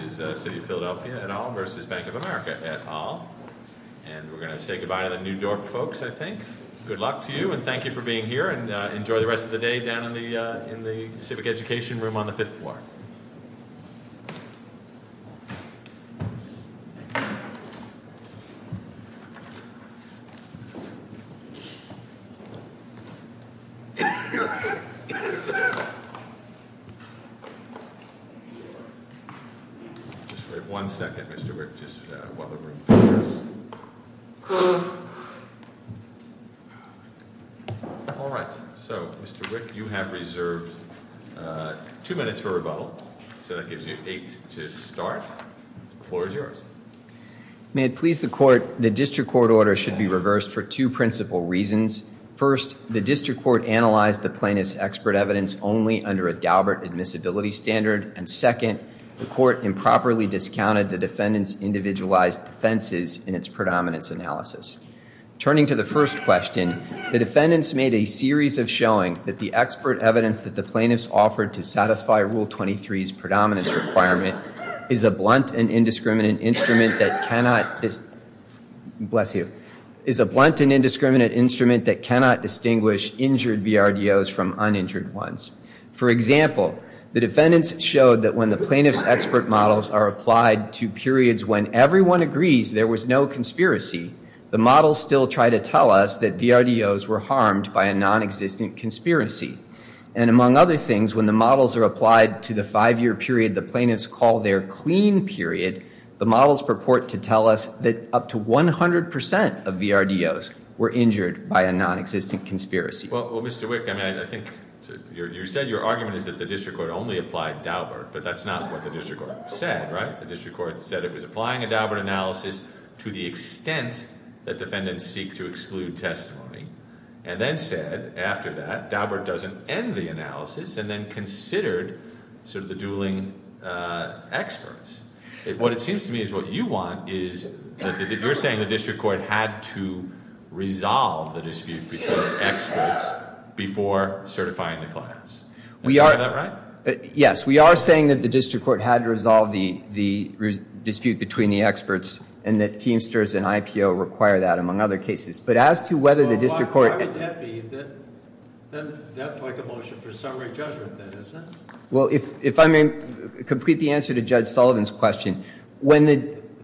Good luck to you and thank you for being here. Enjoy the rest of the day down in the Civic Education room on the 5th floor. Just wait one second, Mr. Wick, just while the room clears. All right, so Mr. Wick, you have reserved two minutes for rebuttal, so that gives you eight to start. The floor is yours. May it please the Court, the District Court order should be reversed for two principal reasons. First, the District Court analyzed the plaintiff's expert evidence only under a Daubert admissibility standard. And second, the Court improperly discounted the defendant's individualized defenses in its predominance analysis. Turning to the first question, the defendants made a series of showings that the expert evidence that the plaintiffs offered to satisfy Rule 23's predominance requirement is a blunt and indiscriminate instrument that cannot distinguish injured BRDOs from uninjured ones. For example, the defendants showed that when the plaintiff's expert models are applied to periods when everyone agrees there was no conspiracy, the models still try to tell us that BRDOs were harmed by a non-existent conspiracy. And among other things, when the models are applied to the five-year period the plaintiffs call their clean period, the models purport to tell us that up to 100% of BRDOs were injured by a non-existent conspiracy. Well, Mr. Wick, I think you said your argument is that the District Court only applied Daubert. But that's not what the District Court said, right? The District Court said it was applying a Daubert analysis to the extent that defendants seek to exclude testimony. And then said, after that, Daubert doesn't end the analysis and then considered sort of the dueling experts. What it seems to me is what you want is that you're saying the District Court had to resolve the dispute between experts before certifying the clients. Is that right? Yes, we are saying that the District Court had to resolve the dispute between the experts and that Teamsters and IPO require that, among other cases. But as to whether the District Court— Well, why would that be? That's like a motion for summary judgment then, isn't it? Well, if I may complete the answer to Judge Sullivan's question.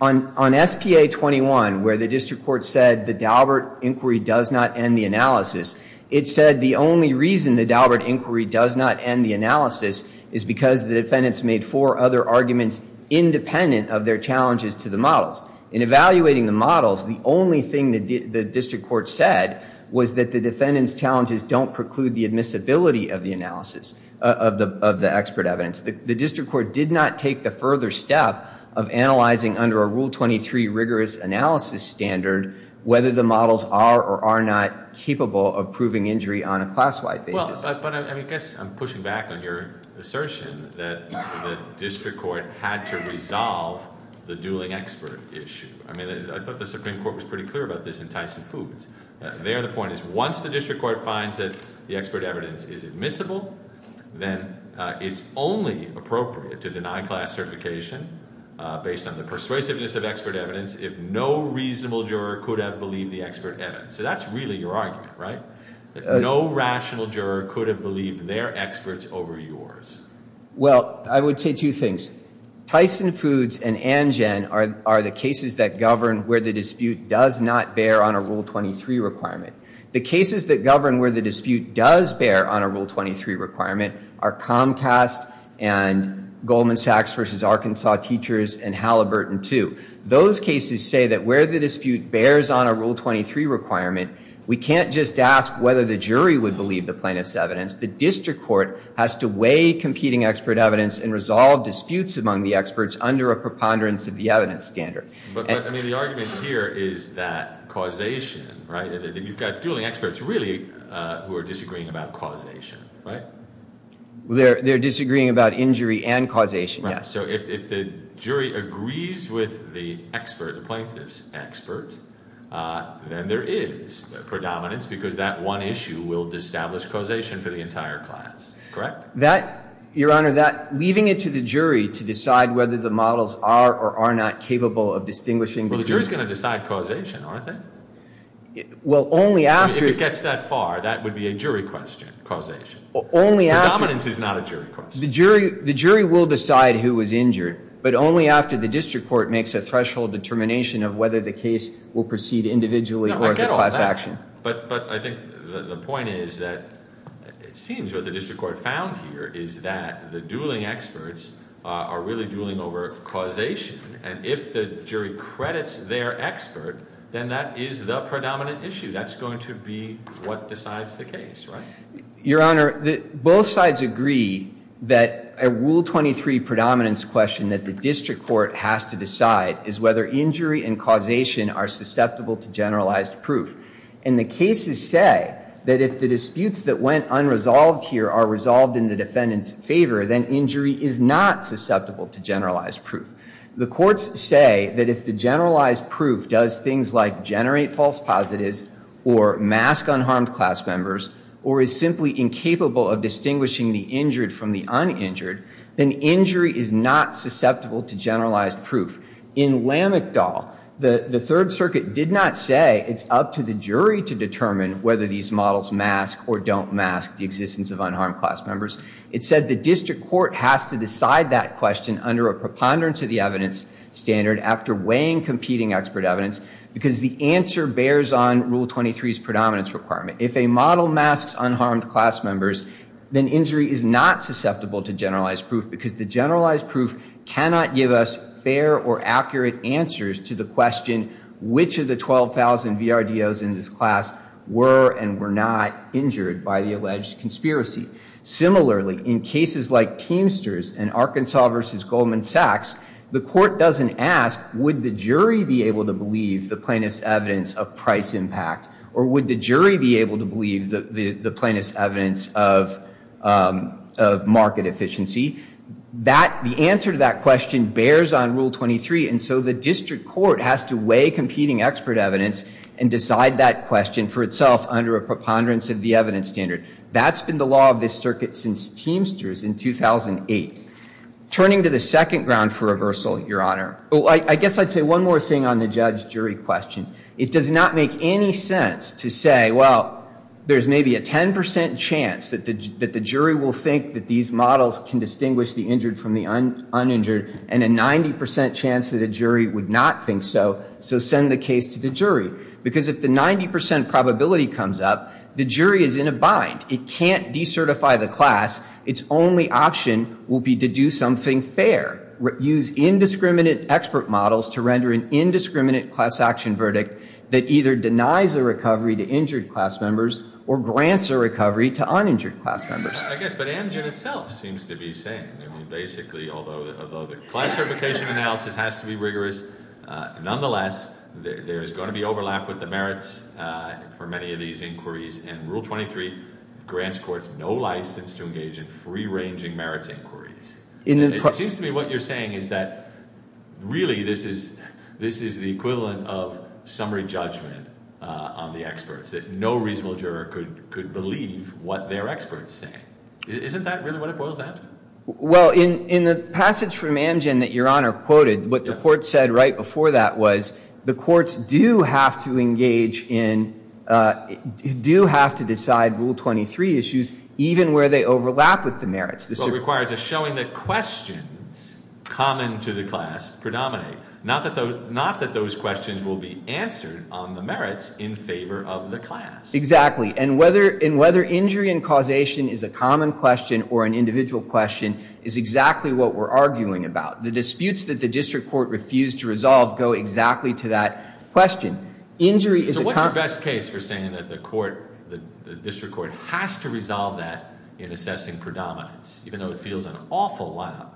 On SPA-21, where the District Court said the Daubert inquiry does not end the analysis, it said the only reason the Daubert inquiry does not end the analysis is because the defendants made four other arguments independent of their challenges to the models. In evaluating the models, the only thing the District Court said was that the defendants' challenges don't preclude the admissibility of the expert evidence. The District Court did not take the further step of analyzing under a Rule 23 rigorous analysis standard whether the models are or are not capable of proving injury on a class-wide basis. But I guess I'm pushing back on your assertion that the District Court had to resolve the dueling expert issue. I thought the Supreme Court was pretty clear about this in Tyson Foods. There, the point is once the District Court finds that the expert evidence is admissible, then it's only appropriate to deny class certification based on the persuasiveness of expert evidence if no reasonable juror could have believed the expert evidence. So that's really your argument, right? No rational juror could have believed their experts over yours. Well, I would say two things. Tyson Foods and Angen are the cases that govern where the dispute does not bear on a Rule 23 requirement. The cases that govern where the dispute does bear on a Rule 23 requirement are Comcast and Goldman Sachs v. Arkansas Teachers and Halliburton II. Those cases say that where the dispute bears on a Rule 23 requirement, we can't just ask whether the jury would believe the plaintiff's evidence. The District Court has to weigh competing expert evidence and resolve disputes among the experts under a preponderance of the evidence standard. But the argument here is that causation, right? You've got dueling experts really who are disagreeing about causation, right? They're disagreeing about injury and causation, yes. So if the jury agrees with the expert, the plaintiff's expert, then there is predominance because that one issue will establish causation for the entire class, correct? Your Honor, leaving it to the jury to decide whether the models are or are not capable of distinguishing between Well, the jury's going to decide causation, aren't they? Well, only after If it gets that far, that would be a jury question, causation. Only after Predominance is not a jury question. The jury will decide who was injured, but only after the District Court makes a threshold determination of whether the case will proceed individually or as a class action. But I think the point is that it seems what the District Court found here is that the dueling experts are really dueling over causation. And if the jury credits their expert, then that is the predominant issue. That's going to be what decides the case, right? Your Honor, both sides agree that a Rule 23 predominance question that the District Court has to decide is whether injury and causation are susceptible to generalized proof. And the cases say that if the disputes that went unresolved here are resolved in the defendant's favor, then injury is not susceptible to generalized proof. The courts say that if the generalized proof does things like generate false positives or mask unharmed class members or is simply incapable of distinguishing the injured from the uninjured, then injury is not susceptible to generalized proof. In Lamechdal, the Third Circuit did not say it's up to the jury to determine whether these models mask or don't mask the existence of unharmed class members. It said the District Court has to decide that question under a preponderance of the evidence standard after weighing competing expert evidence because the answer bears on Rule 23's predominance requirement. If a model masks unharmed class members, then injury is not susceptible to generalized proof because the generalized proof cannot give us fair or accurate answers to the question which of the 12,000 VRDOs in this class were and were not injured by the alleged conspiracy. Similarly, in cases like Teamsters and Arkansas v. Goldman Sachs, the court doesn't ask would the jury be able to believe the plaintiff's evidence of price impact or would the jury be able to believe the plaintiff's evidence of market efficiency. The answer to that question bears on Rule 23, and so the District Court has to weigh competing expert evidence and decide that question for itself under a preponderance of the evidence standard. That's been the law of this circuit since Teamsters in 2008. Turning to the second ground for reversal, Your Honor, I guess I'd say one more thing on the judge-jury question. It does not make any sense to say, well, there's maybe a 10% chance that the jury will think that these models can distinguish the injured from the uninjured and a 90% chance that a jury would not think so, so send the case to the jury. Because if the 90% probability comes up, the jury is in a bind. It can't decertify the class. Its only option will be to do something fair, use indiscriminate expert models to render an indiscriminate class action verdict that either denies a recovery to injured class members or grants a recovery to uninjured class members. I guess, but Amgen itself seems to be saying, basically, although the class certification analysis has to be rigorous, nonetheless, there is going to be overlap with the merits for many of these inquiries, and Rule 23 grants courts no license to engage in free-ranging merits inquiries. It seems to me what you're saying is that, really, this is the equivalent of summary judgment on the experts, that no reasonable juror could believe what their experts say. Isn't that really what it was then? Well, in the passage from Amgen that Your Honor quoted, what the court said right before that was, the courts do have to engage in, do have to decide Rule 23 issues, even where they overlap with the merits. What it requires is showing that questions common to the class predominate, not that those questions will be answered on the merits in favor of the class. Exactly. And whether injury and causation is a common question or an individual question is exactly what we're arguing about. The disputes that the district court refused to resolve go exactly to that question. So what's your best case for saying that the court, the district court, has to resolve that in assessing predominance, even though it feels an awful lot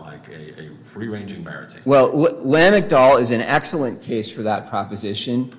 like a free-ranging merit? Well, Lamech-Dahl is an excellent case for that proposition.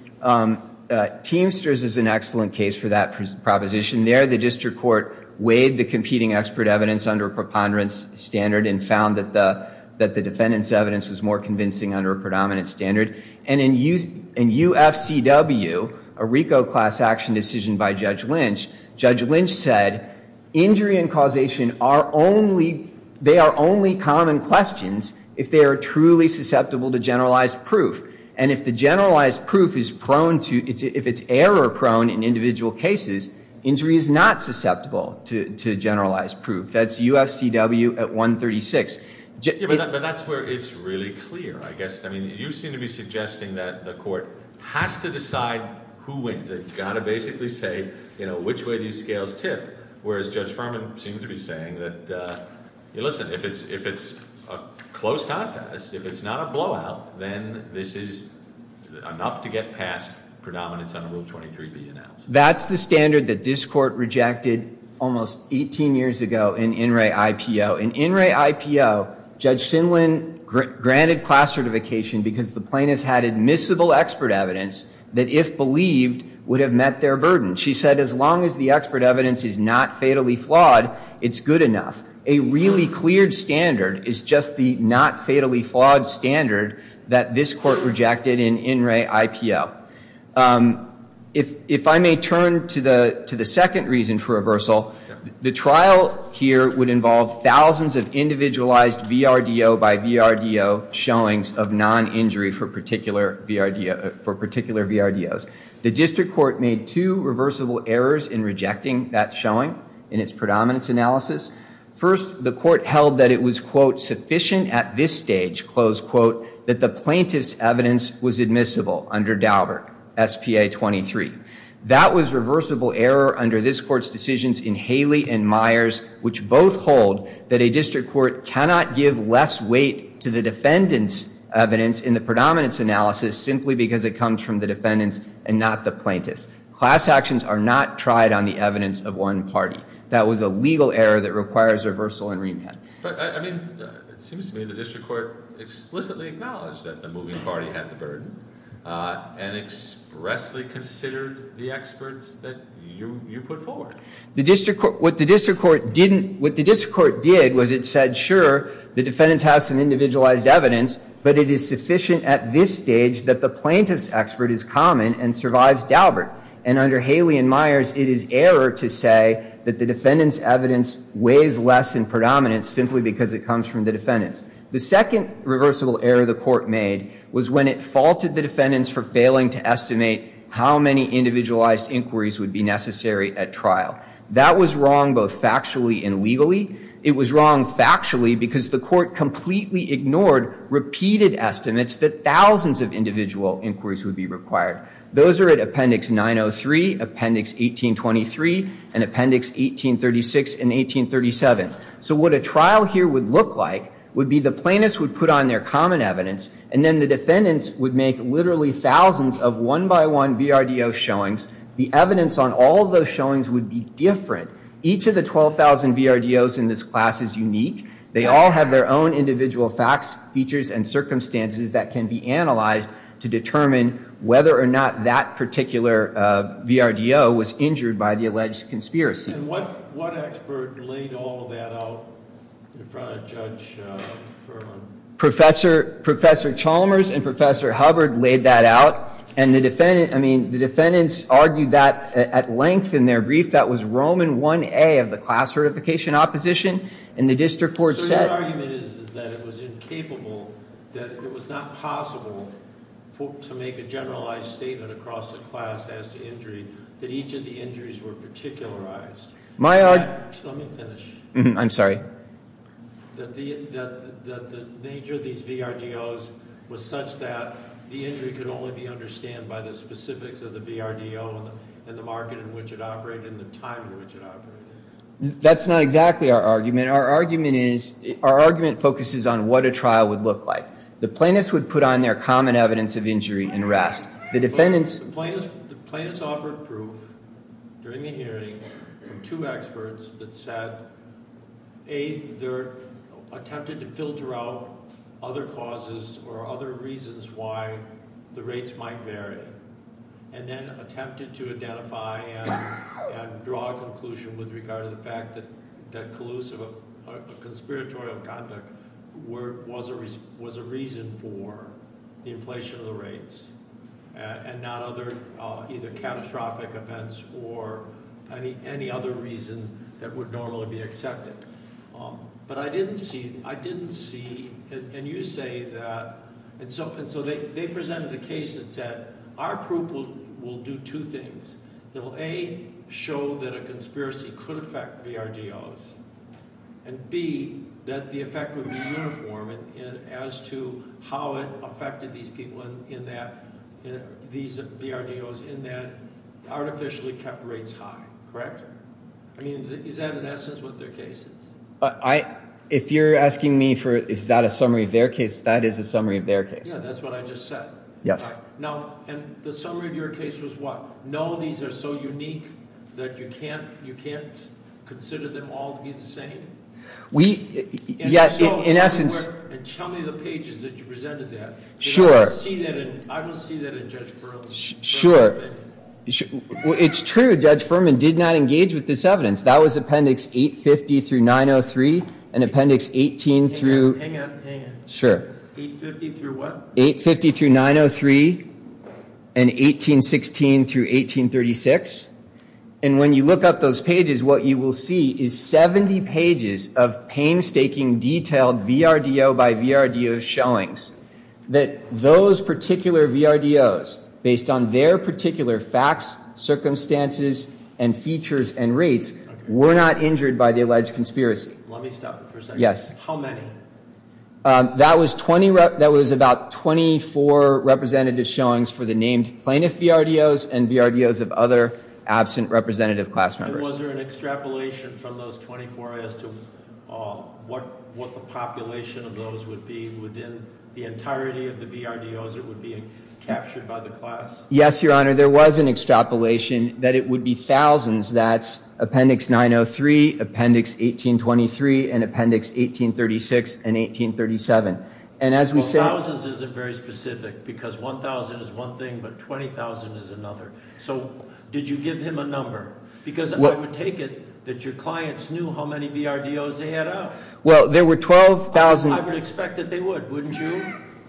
Teamsters is an excellent case for that proposition. There, the district court weighed the competing expert evidence under preponderance standard and found that the defendant's evidence was more convincing under predominance standard. And in UFCW, a RICO class action decision by Judge Lynch, Judge Lynch said injury and causation are only, they are only common questions if they are truly susceptible to generalized proof. And if the generalized proof is prone to, if it's error prone in individual cases, injury is not susceptible to generalized proof. That's UFCW at 136. But that's where it's really clear, I guess. I mean, you seem to be suggesting that the court has to decide who wins. They've got to basically say, you know, which way these scales tip, whereas Judge Furman seems to be saying that, listen, if it's a close contest, if it's not a blowout, then this is enough to get past predominance under Rule 23B announced. That's the standard that this court rejected almost 18 years ago in INRAE-IPO. In INRAE-IPO, Judge Sinlin granted class certification because the plaintiffs had admissible expert evidence that, if believed, would have met their burden. She said as long as the expert evidence is not fatally flawed, it's good enough. A really cleared standard is just the not fatally flawed standard that this court rejected in INRAE-IPO. If I may turn to the second reason for reversal, the trial here would involve thousands of individualized VRDO by VRDO showings of non-injury for particular VRDOs. The district court made two reversible errors in rejecting that showing in its predominance analysis. First, the court held that it was, quote, sufficient at this stage, close quote, that the plaintiff's evidence was admissible under Daubert, SPA 23. That was reversible error under this court's decisions in Haley and Myers, which both hold that a district court cannot give less weight to the defendant's evidence in the predominance analysis simply because it comes from the defendant's and not the plaintiff's. Class actions are not tried on the evidence of one party. That was a legal error that requires reversal and remand. It seems to me the district court explicitly acknowledged that the moving party had the burden and expressly considered the experts that you put forward. What the district court did was it said, sure, the defendant has some individualized evidence, but it is sufficient at this stage that the plaintiff's expert is common and survives Daubert. And under Haley and Myers, it is error to say that the defendant's evidence weighs less in predominance simply because it comes from the defendant's. The second reversible error the court made was when it faulted the defendants for failing to estimate how many individualized inquiries would be necessary at trial. That was wrong both factually and legally. It was wrong factually because the court completely ignored repeated estimates that thousands of individual inquiries would be required. Those are at Appendix 903, Appendix 1823, and Appendix 1836 and 1837. So what a trial here would look like would be the plaintiffs would put on their common evidence, and then the defendants would make literally thousands of one-by-one VRDO showings. The evidence on all of those showings would be different. Each of the 12,000 VRDOs in this class is unique. They all have their own individual facts, features, and circumstances that can be analyzed to determine whether or not that particular VRDO was injured by the alleged conspiracy. And what expert laid all of that out in front of Judge Furman? Professor Chalmers and Professor Hubbard laid that out, and the defendants argued that at length in their brief. That was Roman 1A of the class certification opposition, and the district court said— to make a generalized statement across the class as to injury, that each of the injuries were particularized. Let me finish. I'm sorry. That the nature of these VRDOs was such that the injury could only be understood by the specifics of the VRDO and the market in which it operated and the time in which it operated. That's not exactly our argument. Our argument focuses on what a trial would look like. The plaintiffs would put on their common evidence of injury and rest. The defendants— The plaintiffs offered proof during the hearing from two experts that said, A, they attempted to filter out other causes or other reasons why the rates might vary, and then attempted to identify and draw a conclusion with regard to the fact that collusive or conspiratorial conduct was a reason for the inflation of the rates and not other—either catastrophic events or any other reason that would normally be accepted. But I didn't see—I didn't see—and you say that—and so they presented a case that said, Our proof will do two things. It will, A, show that a conspiracy could affect VRDOs, and, B, that the effect would be uniform as to how it affected these people in that— these VRDOs in that artificially kept rates high. Correct? I mean, is that in essence what their case is? If you're asking me for is that a summary of their case, that is a summary of their case. Yeah, that's what I just said. Yes. Now, and the summary of your case was what? No, these are so unique that you can't—you can't consider them all to be the same? We—yeah, in essence— And so—and tell me the pages that you presented that. Sure. Because I don't see that in—I don't see that in Judge Furman's evidence. Sure. Well, it's true. Judge Furman did not engage with this evidence. That was Appendix 850 through 903 and Appendix 18 through— Hang on. Hang on. Sure. 850 through what? 850 through 903 and 1816 through 1836. And when you look up those pages, what you will see is 70 pages of painstaking detailed VRDO by VRDO showings that those particular VRDOs, based on their particular facts, circumstances, and features and rates, were not injured by the alleged conspiracy. Let me stop for a second. Yes. How many? That was 20—that was about 24 representative showings for the named plaintiff VRDOs and VRDOs of other absent representative class members. And was there an extrapolation from those 24 as to what the population of those would be within the entirety of the VRDOs that would be captured by the class? Yes, Your Honor, there was an extrapolation that it would be thousands. That's Appendix 903, Appendix 1823, and Appendix 1836 and 1837. Thousands isn't very specific because 1,000 is one thing, but 20,000 is another. So did you give him a number? Because I would take it that your clients knew how many VRDOs they had out. Well, there were 12,000— I would expect that they would, wouldn't you?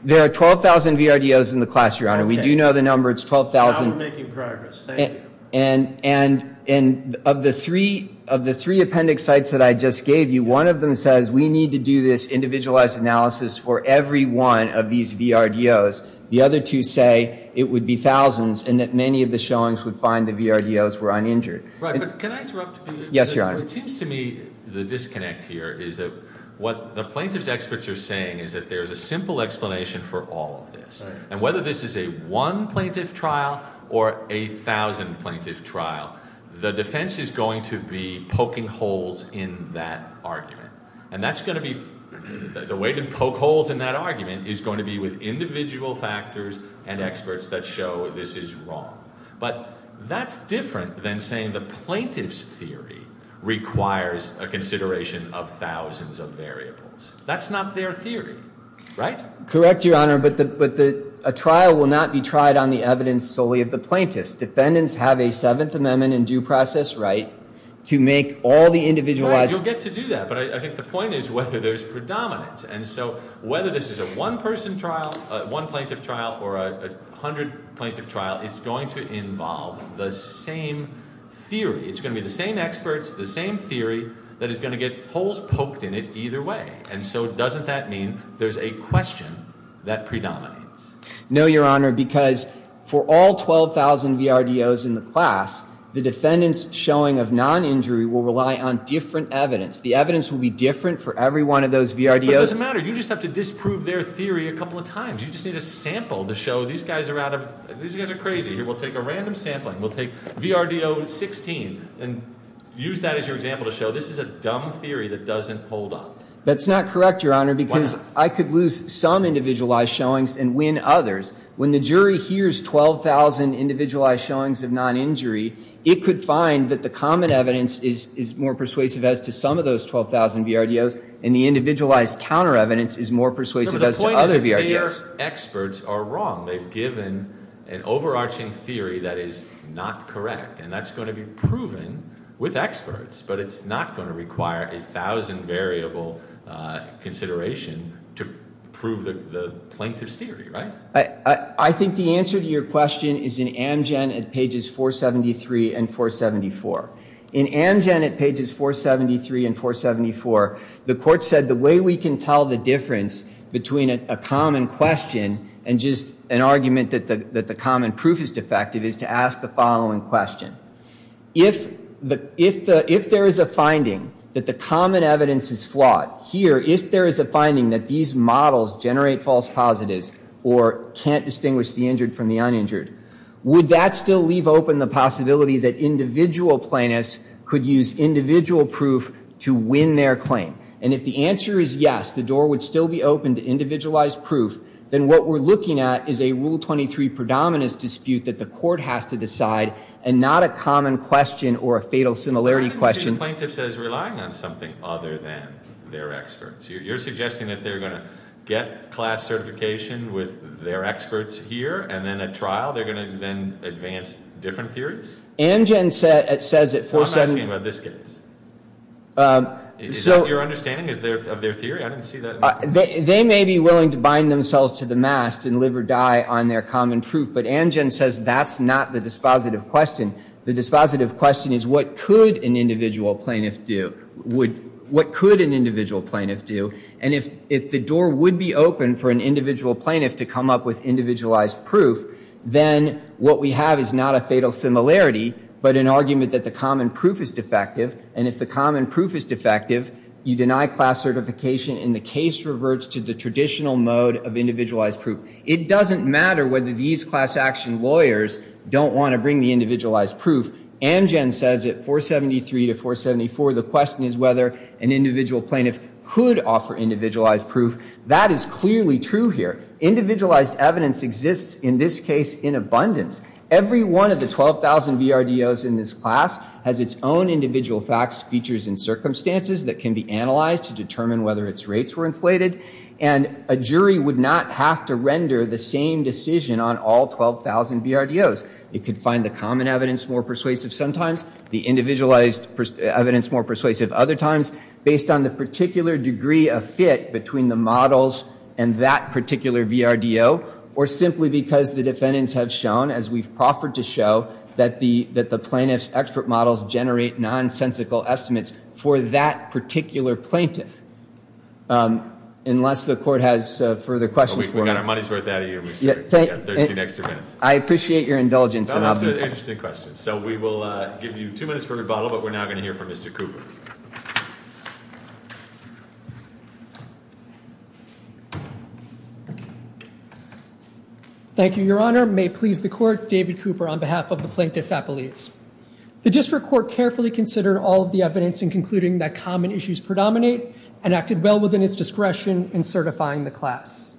There are 12,000 VRDOs in the class, Your Honor. We do know the number. It's 12,000. Now we're making progress. Thank you. And of the three appendix sites that I just gave you, one of them says we need to do this individualized analysis for every one of these VRDOs. The other two say it would be thousands and that many of the showings would find the VRDOs were uninjured. Right, but can I interrupt? Yes, Your Honor. It seems to me the disconnect here is that what the plaintiff's experts are saying is that there's a simple explanation for all of this. And whether this is a one plaintiff trial or a thousand plaintiff trial, the defense is going to be poking holes in that argument. And that's going to be—the way to poke holes in that argument is going to be with individual factors and experts that show this is wrong. But that's different than saying the plaintiff's theory requires a consideration of thousands of variables. That's not their theory, right? Correct, Your Honor, but a trial will not be tried on the evidence solely of the plaintiffs. Defendants have a Seventh Amendment and due process right to make all the individualized— Right, you'll get to do that. But I think the point is whether there's predominance. And so whether this is a one plaintiff trial or a hundred plaintiff trial, it's going to involve the same theory. It's going to be the same experts, the same theory, that is going to get holes poked in it either way. And so doesn't that mean there's a question that predominates? No, Your Honor, because for all 12,000 VRDOs in the class, the defendant's showing of non-injury will rely on different evidence. The evidence will be different for every one of those VRDOs. But it doesn't matter. You just have to disprove their theory a couple of times. You just need a sample to show these guys are out of—these guys are crazy. We'll take a random sampling. We'll take VRDO 16 and use that as your example to show this is a dumb theory that doesn't hold up. That's not correct, Your Honor, because I could lose some individualized showings and win others. When the jury hears 12,000 individualized showings of non-injury, it could find that the common evidence is more persuasive as to some of those 12,000 VRDOs, and the individualized counter evidence is more persuasive as to other VRDOs. No, but the point is their experts are wrong. They've given an overarching theory that is not correct. And that's going to be proven with experts. But it's not going to require a thousand-variable consideration to prove the plaintiff's theory, right? I think the answer to your question is in Amgen at pages 473 and 474. In Amgen at pages 473 and 474, the court said the way we can tell the difference between a common question and just an argument that the common proof is defective is to ask the following question. If there is a finding that the common evidence is flawed here, if there is a finding that these models generate false positives or can't distinguish the injured from the uninjured, would that still leave open the possibility that individual plaintiffs could use individual proof to win their claim? And if the answer is yes, the door would still be open to individualized proof. Then what we're looking at is a Rule 23 predominance dispute that the court has to decide and not a common question or a fatal similarity question. I didn't see the plaintiff says relying on something other than their experts. You're suggesting that they're going to get class certification with their experts here and then at trial they're going to then advance different theories? Amgen says it for certain. I'm asking about this case. Is that your understanding of their theory? I didn't see that. They may be willing to bind themselves to the mast and live or die on their common proof. But Amgen says that's not the dispositive question. The dispositive question is what could an individual plaintiff do? What could an individual plaintiff do? And if the door would be open for an individual plaintiff to come up with individualized proof, then what we have is not a fatal similarity but an argument that the common proof is defective. And if the common proof is defective, you deny class certification, and the case reverts to the traditional mode of individualized proof. It doesn't matter whether these class action lawyers don't want to bring the individualized proof. Amgen says it 473 to 474. The question is whether an individual plaintiff could offer individualized proof. That is clearly true here. Individualized evidence exists in this case in abundance. Every one of the 12,000 VRDOs in this class has its own individual facts, features, and circumstances that can be analyzed to determine whether its rates were inflated. And a jury would not have to render the same decision on all 12,000 VRDOs. It could find the common evidence more persuasive sometimes, the individualized evidence more persuasive other times, based on the particular degree of fit between the models and that particular VRDO, or simply because the defendants have shown, as we've proffered to show, that the plaintiff's expert models generate nonsensical estimates for that particular plaintiff. Unless the court has further questions for him. We've got our money's worth out of you. We've got 13 extra minutes. I appreciate your indulgence. That's an interesting question. So we will give you two minutes for rebuttal, but we're now going to hear from Mr. Cooper. Thank you, Your Honor. May it please the court, David Cooper on behalf of the Plaintiff's Appellates. The district court carefully considered all of the evidence in concluding that common issues predominate and acted well within its discretion in certifying the class.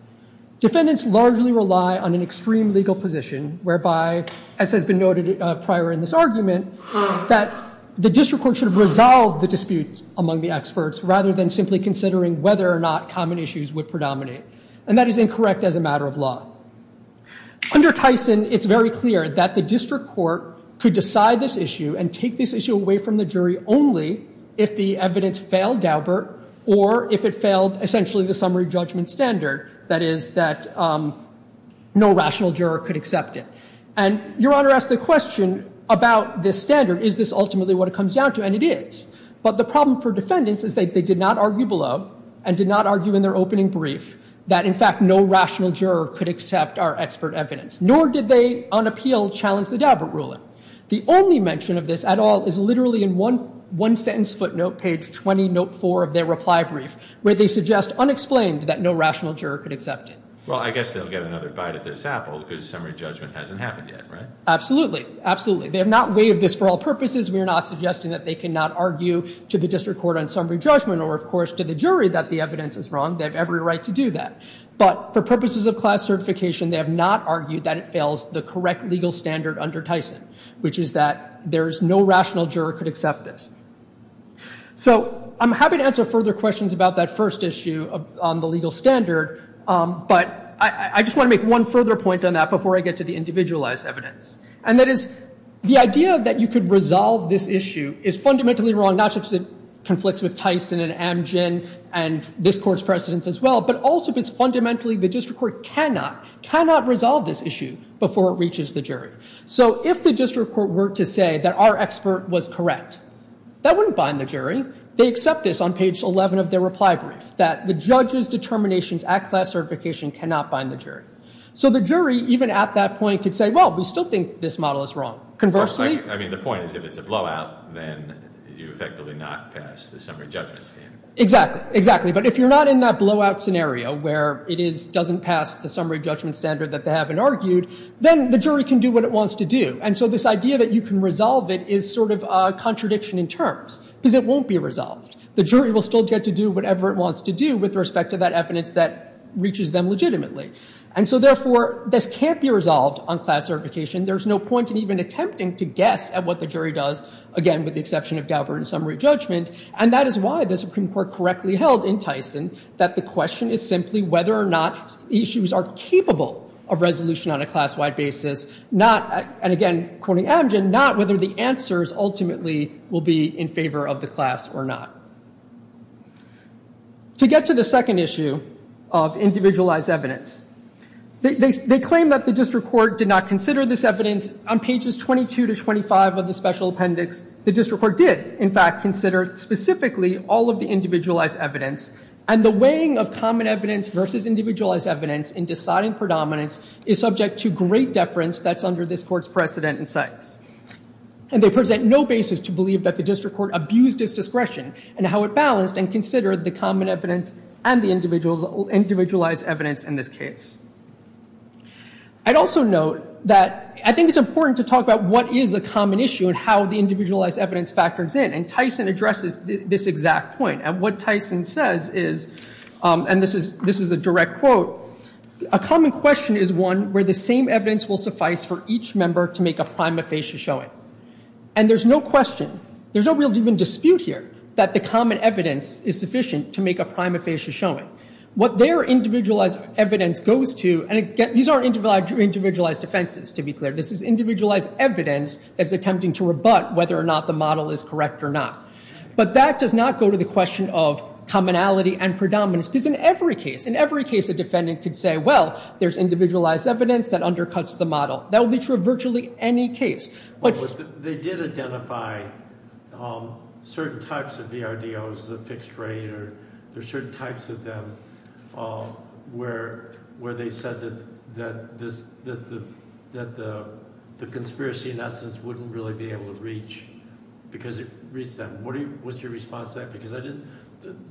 Defendants largely rely on an extreme legal position whereby, as has been noted prior in this argument, that the district court should have resolved the dispute among the experts rather than simply considering whether or not common issues would predominate. And that is incorrect as a matter of law. Under Tyson, it's very clear that the district court could decide this issue and take this issue away from the jury only if the evidence failed Daubert or if it failed essentially the summary judgment standard, that is, that no rational juror could accept it. And Your Honor asked the question about this standard. Is this ultimately what it comes down to? And it is. But the problem for defendants is that they did not argue below and did not argue in their opening brief that, in fact, no rational juror could accept our expert evidence. Nor did they, on appeal, challenge the Daubert ruling. The only mention of this at all is literally in one sentence footnote, page 20, note 4 of their reply brief, where they suggest unexplained that no rational juror could accept it. Well, I guess they'll get another bite at this apple because the summary judgment hasn't happened yet, right? Absolutely. Absolutely. They have not waived this for all purposes. We are not suggesting that they cannot argue to the district court on summary judgment or, of course, to the jury that the evidence is wrong. They have every right to do that. But for purposes of class certification, they have not argued that it fails the correct legal standard under Tyson, which is that there is no rational juror could accept this. So I'm happy to answer further questions about that first issue on the legal standard. But I just want to make one further point on that before I get to the individualized evidence. And that is, the idea that you could resolve this issue is fundamentally wrong, not just because it conflicts with Tyson and Amgen and this court's precedence as well, but also because fundamentally the district court cannot, cannot resolve this issue before it reaches the jury. So if the district court were to say that our expert was correct, that wouldn't bind the jury. They accept this on page 11 of their reply brief, that the judge's determinations at class certification cannot bind the jury. So the jury, even at that point, could say, well, we still think this model is wrong. I mean, the point is, if it's a blowout, then you effectively not pass the summary judgment standard. Exactly, exactly. But if you're not in that blowout scenario where it doesn't pass the summary judgment standard that they haven't argued, then the jury can do what it wants to do. And so this idea that you can resolve it is sort of a contradiction in terms, because it won't be resolved. The jury will still get to do whatever it wants to do with respect to that evidence that reaches them legitimately. And so therefore, this can't be resolved on class certification. There's no point in even attempting to guess at what the jury does, again, with the exception of Daubert and summary judgment. And that is why the Supreme Court correctly held in Tyson that the question is simply whether or not issues are capable of resolution on a class-wide basis. And again, quoting Abgen, not whether the answers ultimately will be in favor of the class or not. To get to the second issue of individualized evidence, they claim that the district court did not consider this evidence on pages 22 to 25 of the special appendix. The district court did, in fact, consider specifically all of the individualized evidence. And the weighing of common evidence versus individualized evidence in deciding predominance is subject to great deference that's under this court's precedent and sites. And they present no basis to believe that the district court abused its discretion in how it balanced and considered the common evidence and the individualized evidence in this case. I'd also note that I think it's important to talk about what is a common issue and how the individualized evidence factors in. And Tyson addresses this exact point. And what Tyson says is, and this is a direct quote, a common question is one where the same evidence will suffice for each member to make a prima facie showing. And there's no question, there's no real even dispute here, that the common evidence is sufficient to make a prima facie showing. What their individualized evidence goes to, and these aren't individualized offenses to be clear, this is individualized evidence that's attempting to rebut whether or not the model is correct or not. But that does not go to the question of commonality and predominance. Because in every case, in every case, a defendant could say, well, there's individualized evidence that undercuts the model. That would be true of virtually any case. They did identify certain types of VRDOs, the fixed rate, or there's certain types of them where they said that the conspiracy in essence wouldn't really be able to reach because it reached them. What's your response to that? Because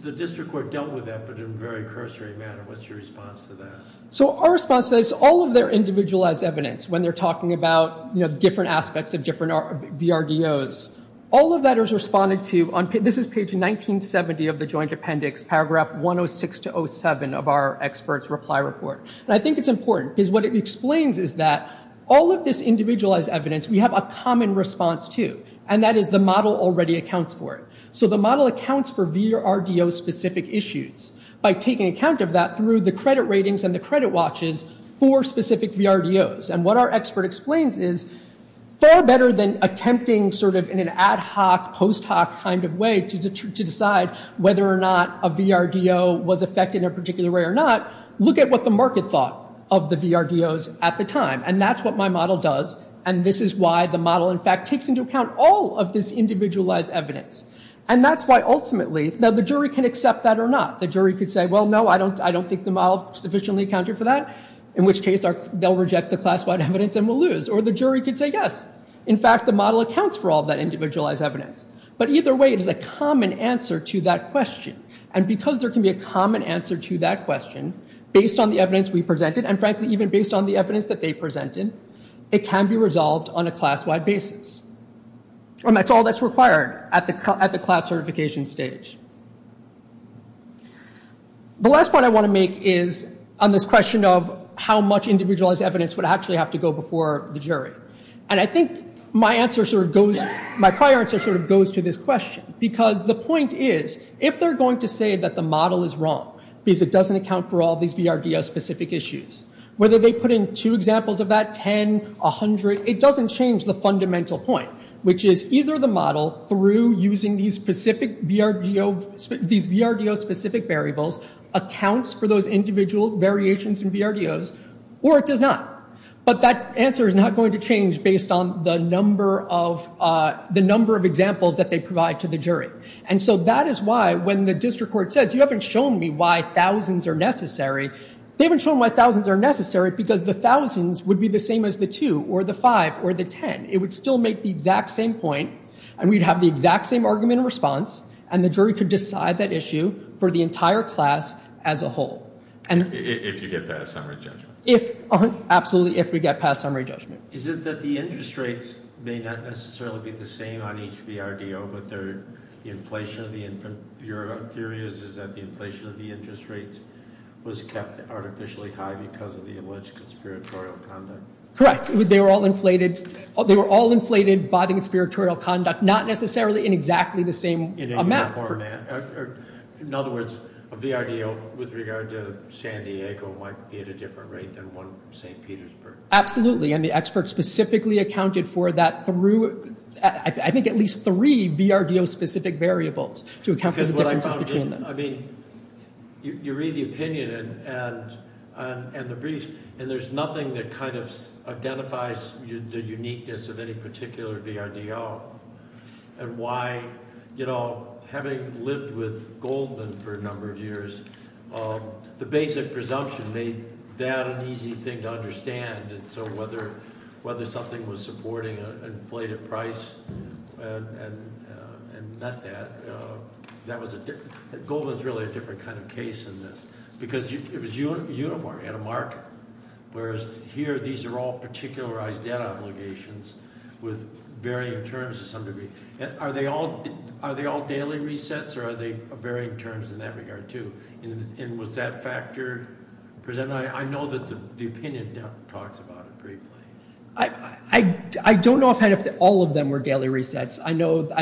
the district court dealt with that, but in a very cursory manner. What's your response to that? So our response to that is all of their individualized evidence, when they're talking about different aspects of different VRDOs, all of that is responded to. This is page 1970 of the joint appendix, paragraph 106-07 of our experts' reply report. And I think it's important because what it explains is that all of this individualized evidence, we have a common response to, and that is the model already accounts for it. So the model accounts for VRDO-specific issues by taking account of that through the credit ratings and the credit watches for specific VRDOs. And what our expert explains is far better than attempting sort of in an ad hoc, post hoc kind of way to decide whether or not a VRDO was affected in a particular way or not, look at what the market thought of the VRDOs at the time. And that's what my model does, and this is why the model, in fact, takes into account all of this individualized evidence. And that's why ultimately, now the jury can accept that or not. The jury could say, well, no, I don't think the model sufficiently accounted for that, in which case they'll reject the class-wide evidence and we'll lose. Or the jury could say, yes, in fact, the model accounts for all of that individualized evidence. But either way, it is a common answer to that question. And because there can be a common answer to that question based on the evidence we presented and, frankly, even based on the evidence that they presented, it can be resolved on a class-wide basis. And that's all that's required at the class certification stage. The last point I want to make is on this question of how much individualized evidence would actually have to go before the jury. And I think my prior answer sort of goes to this question. Because the point is, if they're going to say that the model is wrong because it doesn't account for all these VRDO-specific issues, whether they put in two examples of that, 10, 100, it doesn't change the fundamental point, which is either the model, through using these VRDO-specific variables, accounts for those individual variations in VRDOs, or it does not. But that answer is not going to change based on the number of examples that they provide to the jury. And so that is why, when the district court says, you haven't shown me why thousands are necessary, they haven't shown why thousands are necessary because the thousands would be the same as the two or the five or the 10. It would still make the exact same point, and we'd have the exact same argument and response, and the jury could decide that issue for the entire class as a whole. If you get past summary judgment. Absolutely, if we get past summary judgment. Is it that the interest rates may not necessarily be the same on each VRDO, but your theory is that the inflation of the interest rates was kept artificially high because of the alleged conspiratorial conduct? Correct. They were all inflated by the conspiratorial conduct, not necessarily in exactly the same amount. In other words, a VRDO with regard to San Diego might be at a different rate than one from St. Petersburg. Absolutely, and the expert specifically accounted for that through, I think, at least three VRDO-specific variables to account for the differences between them. I mean, you read the opinion and the brief, and there's nothing that kind of identifies the uniqueness of any particular VRDO. And why, you know, having lived with Goldman for a number of years, the basic presumption made that an easy thing to understand, and so whether something was supporting an inflated price and not that. Goldman's really a different kind of case in this, because it was uniform. He had a market, whereas here these are all particularized debt obligations with varying terms to some degree. Are they all daily resets, or are they varying terms in that regard, too? And was that factor present? I know that the opinion talks about it briefly. I don't know if all of them were daily resets.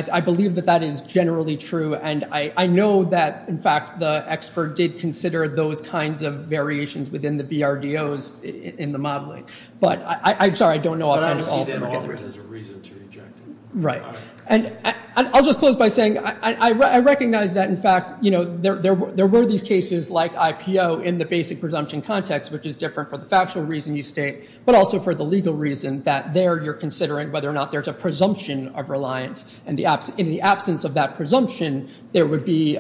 I believe that that is generally true, and I know that, in fact, the expert did consider those kinds of variations within the VRDOs in the modeling. But I'm sorry, I don't know all of them. But I don't see them always as a reason to reject them. Right. And I'll just close by saying I recognize that, in fact, you know, there were these cases like IPO in the basic presumption context, which is different for the factual reason you state, but also for the legal reason that there you're considering whether or not there's a presumption of reliance. And in the absence of that presumption, there would be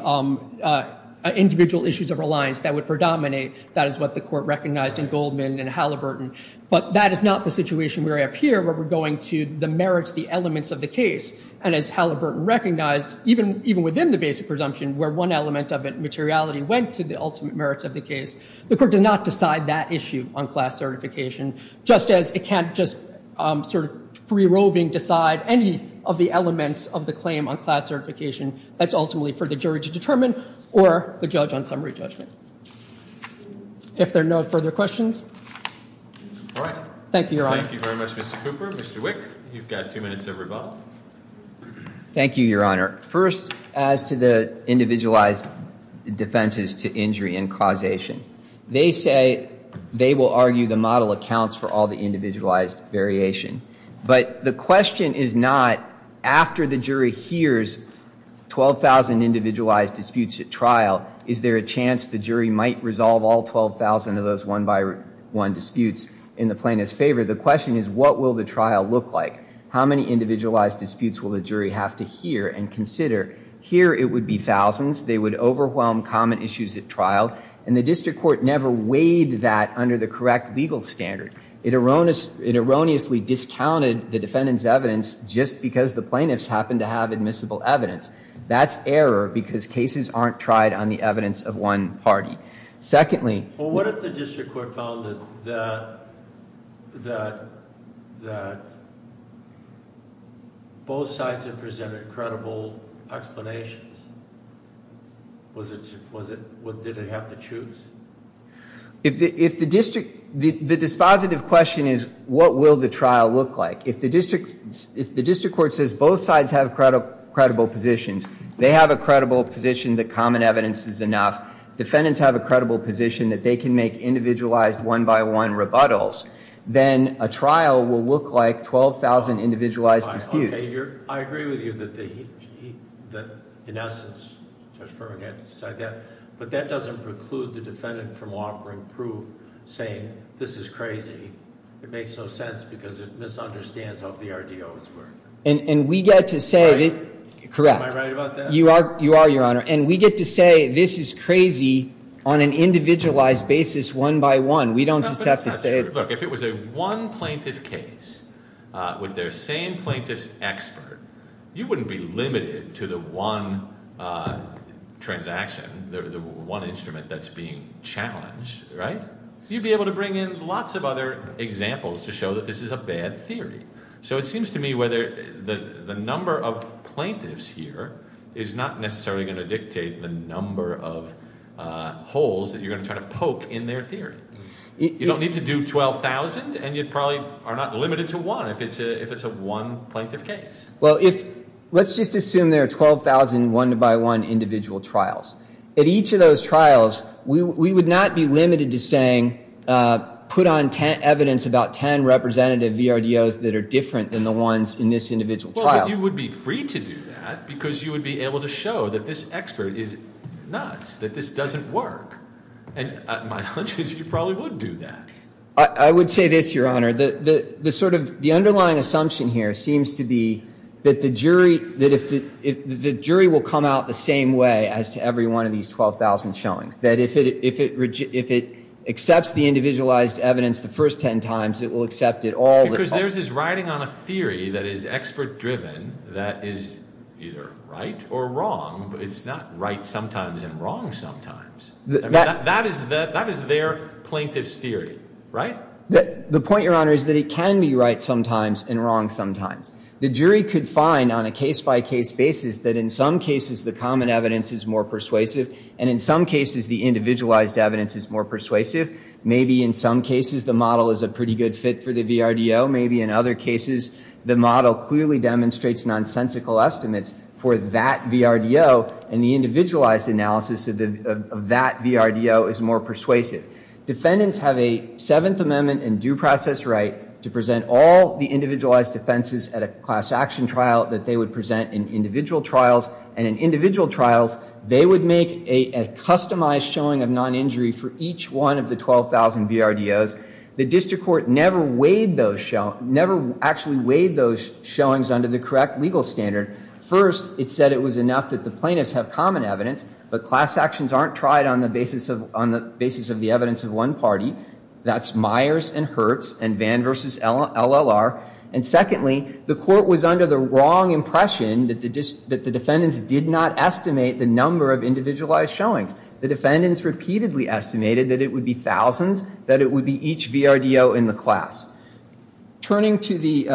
individual issues of reliance that would predominate. That is what the court recognized in Goldman and Halliburton. But that is not the situation we have here, where we're going to the merits, the elements of the case. And as Halliburton recognized, even within the basic presumption, where one element of it, materiality, went to the ultimate merits of the case, the court does not decide that issue on class certification, just as it can't just sort of free-roving decide any of the elements of the claim on class certification. That's ultimately for the jury to determine or the judge on summary judgment. If there are no further questions. All right. Thank you, Your Honor. Thank you very much, Mr. Cooper. Mr. Wick, you've got two minutes to rebuttal. Thank you, Your Honor. First, as to the individualized defenses to injury and causation, they say they will argue the model accounts for all the individualized variation. But the question is not, after the jury hears 12,000 individualized disputes at trial, is there a chance the jury might resolve all 12,000 of those one-by-one disputes in the plaintiff's favor? The question is, what will the trial look like? How many individualized disputes will the jury have to hear and consider? Here it would be thousands. They would overwhelm common issues at trial. And the district court never weighed that under the correct legal standard. It erroneously discounted the defendant's evidence just because the plaintiffs happened to have admissible evidence. That's error because cases aren't tried on the evidence of one party. Well, what if the district court found that both sides had presented credible explanations? Did it have to choose? The dispositive question is, what will the trial look like? If the district court says both sides have credible positions, they have a credible position that common evidence is enough. Defendants have a credible position that they can make individualized one-by-one rebuttals. Then a trial will look like 12,000 individualized disputes. I agree with you that, in essence, Judge Furman had to decide that. But that doesn't preclude the defendant from offering proof, saying, this is crazy. It makes no sense because it misunderstands how the RDOs work. And we get to say that- Am I right about that? You are, Your Honor. And we get to say this is crazy on an individualized basis one-by-one. We don't just have to say- That's not true. Look, if it was a one-plaintiff case with their same plaintiff's expert, you wouldn't be limited to the one transaction, the one instrument that's being challenged, right? You'd be able to bring in lots of other examples to show that this is a bad theory. So it seems to me whether the number of plaintiffs here is not necessarily going to dictate the number of holes that you're going to try to poke in their theory. You don't need to do 12,000, and you probably are not limited to one if it's a one-plaintiff case. Well, let's just assume there are 12,000 one-by-one individual trials. At each of those trials, we would not be limited to saying put on evidence about 10 representative VRDOs that are different than the ones in this individual trial. Well, you would be free to do that because you would be able to show that this expert is nuts, that this doesn't work. And my hunch is you probably would do that. I would say this, Your Honor. The underlying assumption here seems to be that the jury will come out the same way as to every one of these 12,000 showings. That if it accepts the individualized evidence the first 10 times, it will accept it all the time. Because there's this riding on a theory that is expert-driven that is either right or wrong. But it's not right sometimes and wrong sometimes. That is their plaintiff's theory, right? The point, Your Honor, is that it can be right sometimes and wrong sometimes. The jury could find on a case-by-case basis that in some cases the common evidence is more persuasive, and in some cases the individualized evidence is more persuasive. Maybe in some cases the model is a pretty good fit for the VRDO. Defendants have a Seventh Amendment and due process right to present all the individualized offenses at a class action trial that they would present in individual trials. And in individual trials, they would make a customized showing of non-injury for each one of the 12,000 VRDOs. The district court never weighed those showings under the correct legal standard. First, it said it was enough that the plaintiffs have common evidence, but class actions aren't tried on the basis of the evidence of one party. That's Myers and Hertz and Vann v. LLR. And secondly, the court was under the wrong impression that the defendants did not estimate the number of individualized showings. The defendants repeatedly estimated that it would be thousands, that it would be each VRDO in the class. Turning to the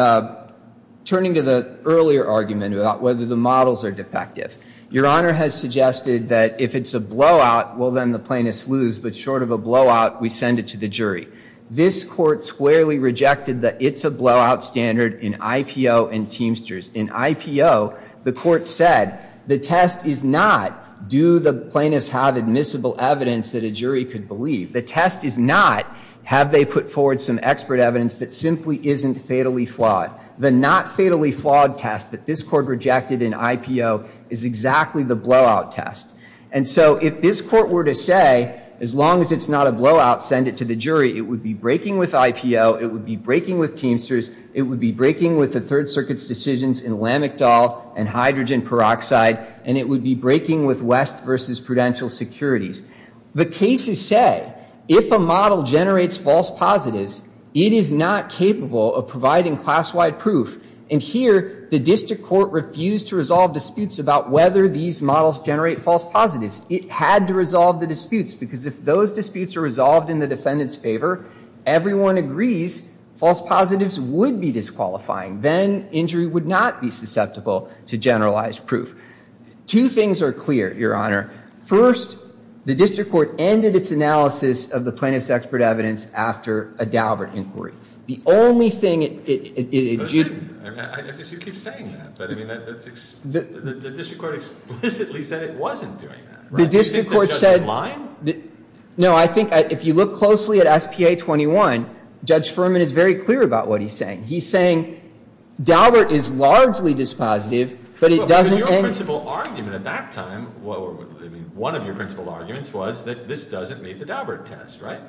earlier argument about whether the models are defective, Your Honor has suggested that if it's a blowout, well, then the plaintiffs lose. But short of a blowout, we send it to the jury. This court squarely rejected that it's a blowout standard in IPO and Teamsters. In IPO, the court said the test is not do the plaintiffs have admissible evidence that a jury could believe. The test is not have they put forward some expert evidence that simply isn't fatally flawed. The not-fatally-flawed test that this court rejected in IPO is exactly the blowout test. And so if this court were to say, as long as it's not a blowout, send it to the jury, it would be breaking with IPO, it would be breaking with Teamsters, it would be breaking with the Third Circuit's decisions in Lamictal and hydrogen peroxide, and it would be breaking with West v. Prudential Securities. The cases say if a model generates false positives, it is not capable of providing class-wide proof. And here, the district court refused to resolve disputes about whether these models generate false positives. It had to resolve the disputes because if those disputes are resolved in the defendant's favor, everyone agrees false positives would be disqualifying. Then injury would not be susceptible to generalized proof. Two things are clear, Your Honor. First, the district court ended its analysis of the plaintiff's expert evidence after a Daubert inquiry. The only thing it— I guess you keep saying that, but I mean, the district court explicitly said it wasn't doing that. The district court said— Do you think the judge is lying? No, I think if you look closely at SPA 21, Judge Furman is very clear about what he's saying. He's saying Daubert is largely dispositive, but it doesn't— One of your principled arguments was that this doesn't meet the Daubert test, right?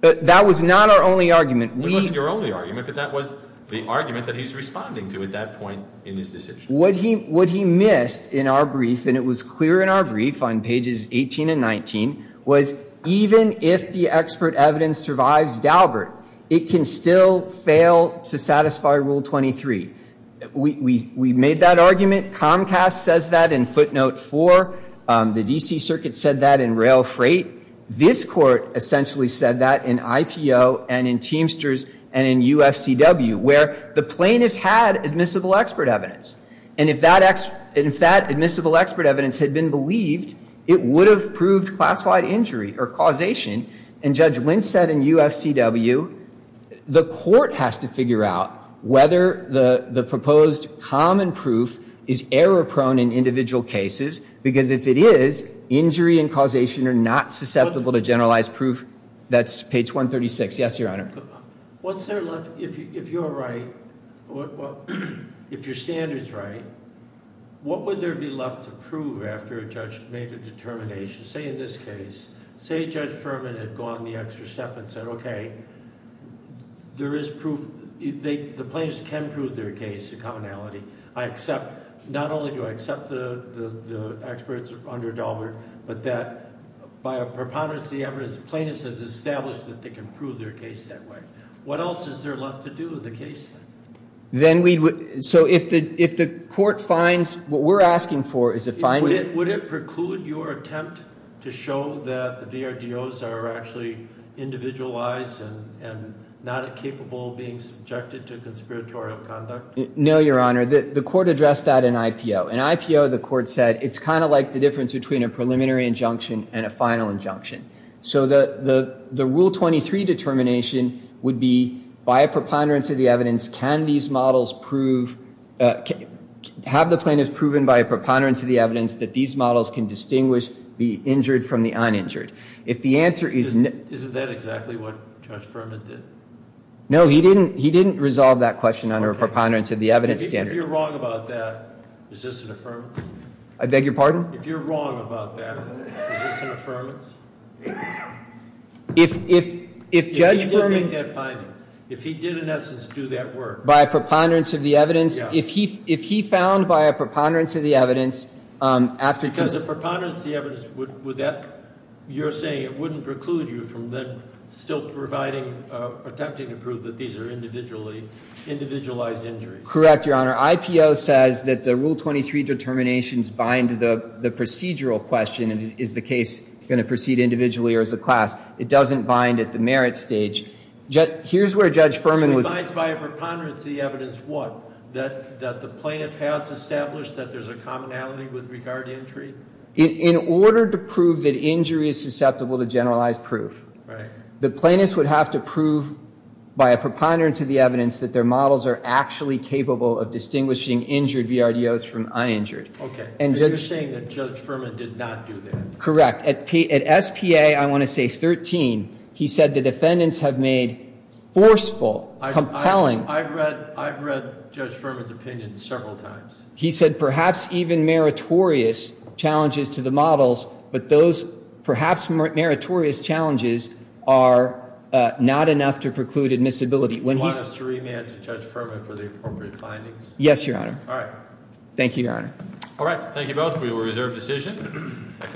That was not our only argument. It wasn't your only argument, but that was the argument that he's responding to at that point in his decision. What he missed in our brief, and it was clear in our brief on pages 18 and 19, was even if the expert evidence survives Daubert, it can still fail to satisfy Rule 23. We made that argument. Comcast says that in footnote 4. The D.C. Circuit said that in rail freight. This Court essentially said that in IPO and in Teamsters and in UFCW, where the plaintiff's had admissible expert evidence, and if that admissible expert evidence had been believed, it would have proved classified injury or causation. And Judge Lintz said in UFCW, the Court has to figure out whether the proposed common proof is error-prone in individual cases, because if it is, injury and causation are not susceptible to generalized proof. That's page 136. Yes, Your Honor? If you're right, if your standard's right, what would there be left to prove after a judge made a determination? Say in this case, say Judge Furman had gone the extra step and said, okay, there is proof. The plaintiffs can prove their case to commonality. I accept. Not only do I accept the experts under Daubert, but that by a preponderance of the evidence, the plaintiffs have established that they can prove their case that way. What else is there left to do in the case, then? Then we would—so if the Court finds what we're asking for, is it finding— Would it preclude your attempt to show that the DRDOs are actually individualized and not capable of being subjected to conspiratorial conduct? No, Your Honor. The Court addressed that in IPO. In IPO, the Court said it's kind of like the difference between a preliminary injunction and a final injunction. So the Rule 23 determination would be, by a preponderance of the evidence, can these models prove—have the plaintiffs proven by a preponderance of the evidence that these models can distinguish the injured from the uninjured? If the answer is— Isn't that exactly what Judge Furman did? No, he didn't resolve that question under a preponderance of the evidence standard. If you're wrong about that, is this an affirmance? I beg your pardon? If you're wrong about that, is this an affirmance? If Judge Furman— If he did make that finding, if he did, in essence, do that work— By a preponderance of the evidence— Yeah. If he found, by a preponderance of the evidence, after— Because a preponderance of the evidence would—you're saying it wouldn't preclude you from then still providing—attempting to prove that these are individually—individualized injuries. Correct, Your Honor. IPO says that the Rule 23 determinations bind the procedural question, is the case going to proceed individually or as a class. It doesn't bind at the merit stage. Here's where Judge Furman was— Binds by a preponderance of the evidence what? That the plaintiff has established that there's a commonality with regard to injury? In order to prove that injury is susceptible to generalized proof. Right. The plaintiff would have to prove, by a preponderance of the evidence, that their models are actually capable of distinguishing injured VRDOs from uninjured. Okay. And you're saying that Judge Furman did not do that? Correct. At SPA, I want to say 13, he said the defendants have made forceful, compelling— I've read Judge Furman's opinion several times. He said perhaps even meritorious challenges to the models, but those perhaps meritorious challenges are not enough to preclude admissibility. Do you want us to remand to Judge Furman for the appropriate findings? Yes, Your Honor. All right. Thank you, Your Honor. All right. Thank you both. We will reserve decision.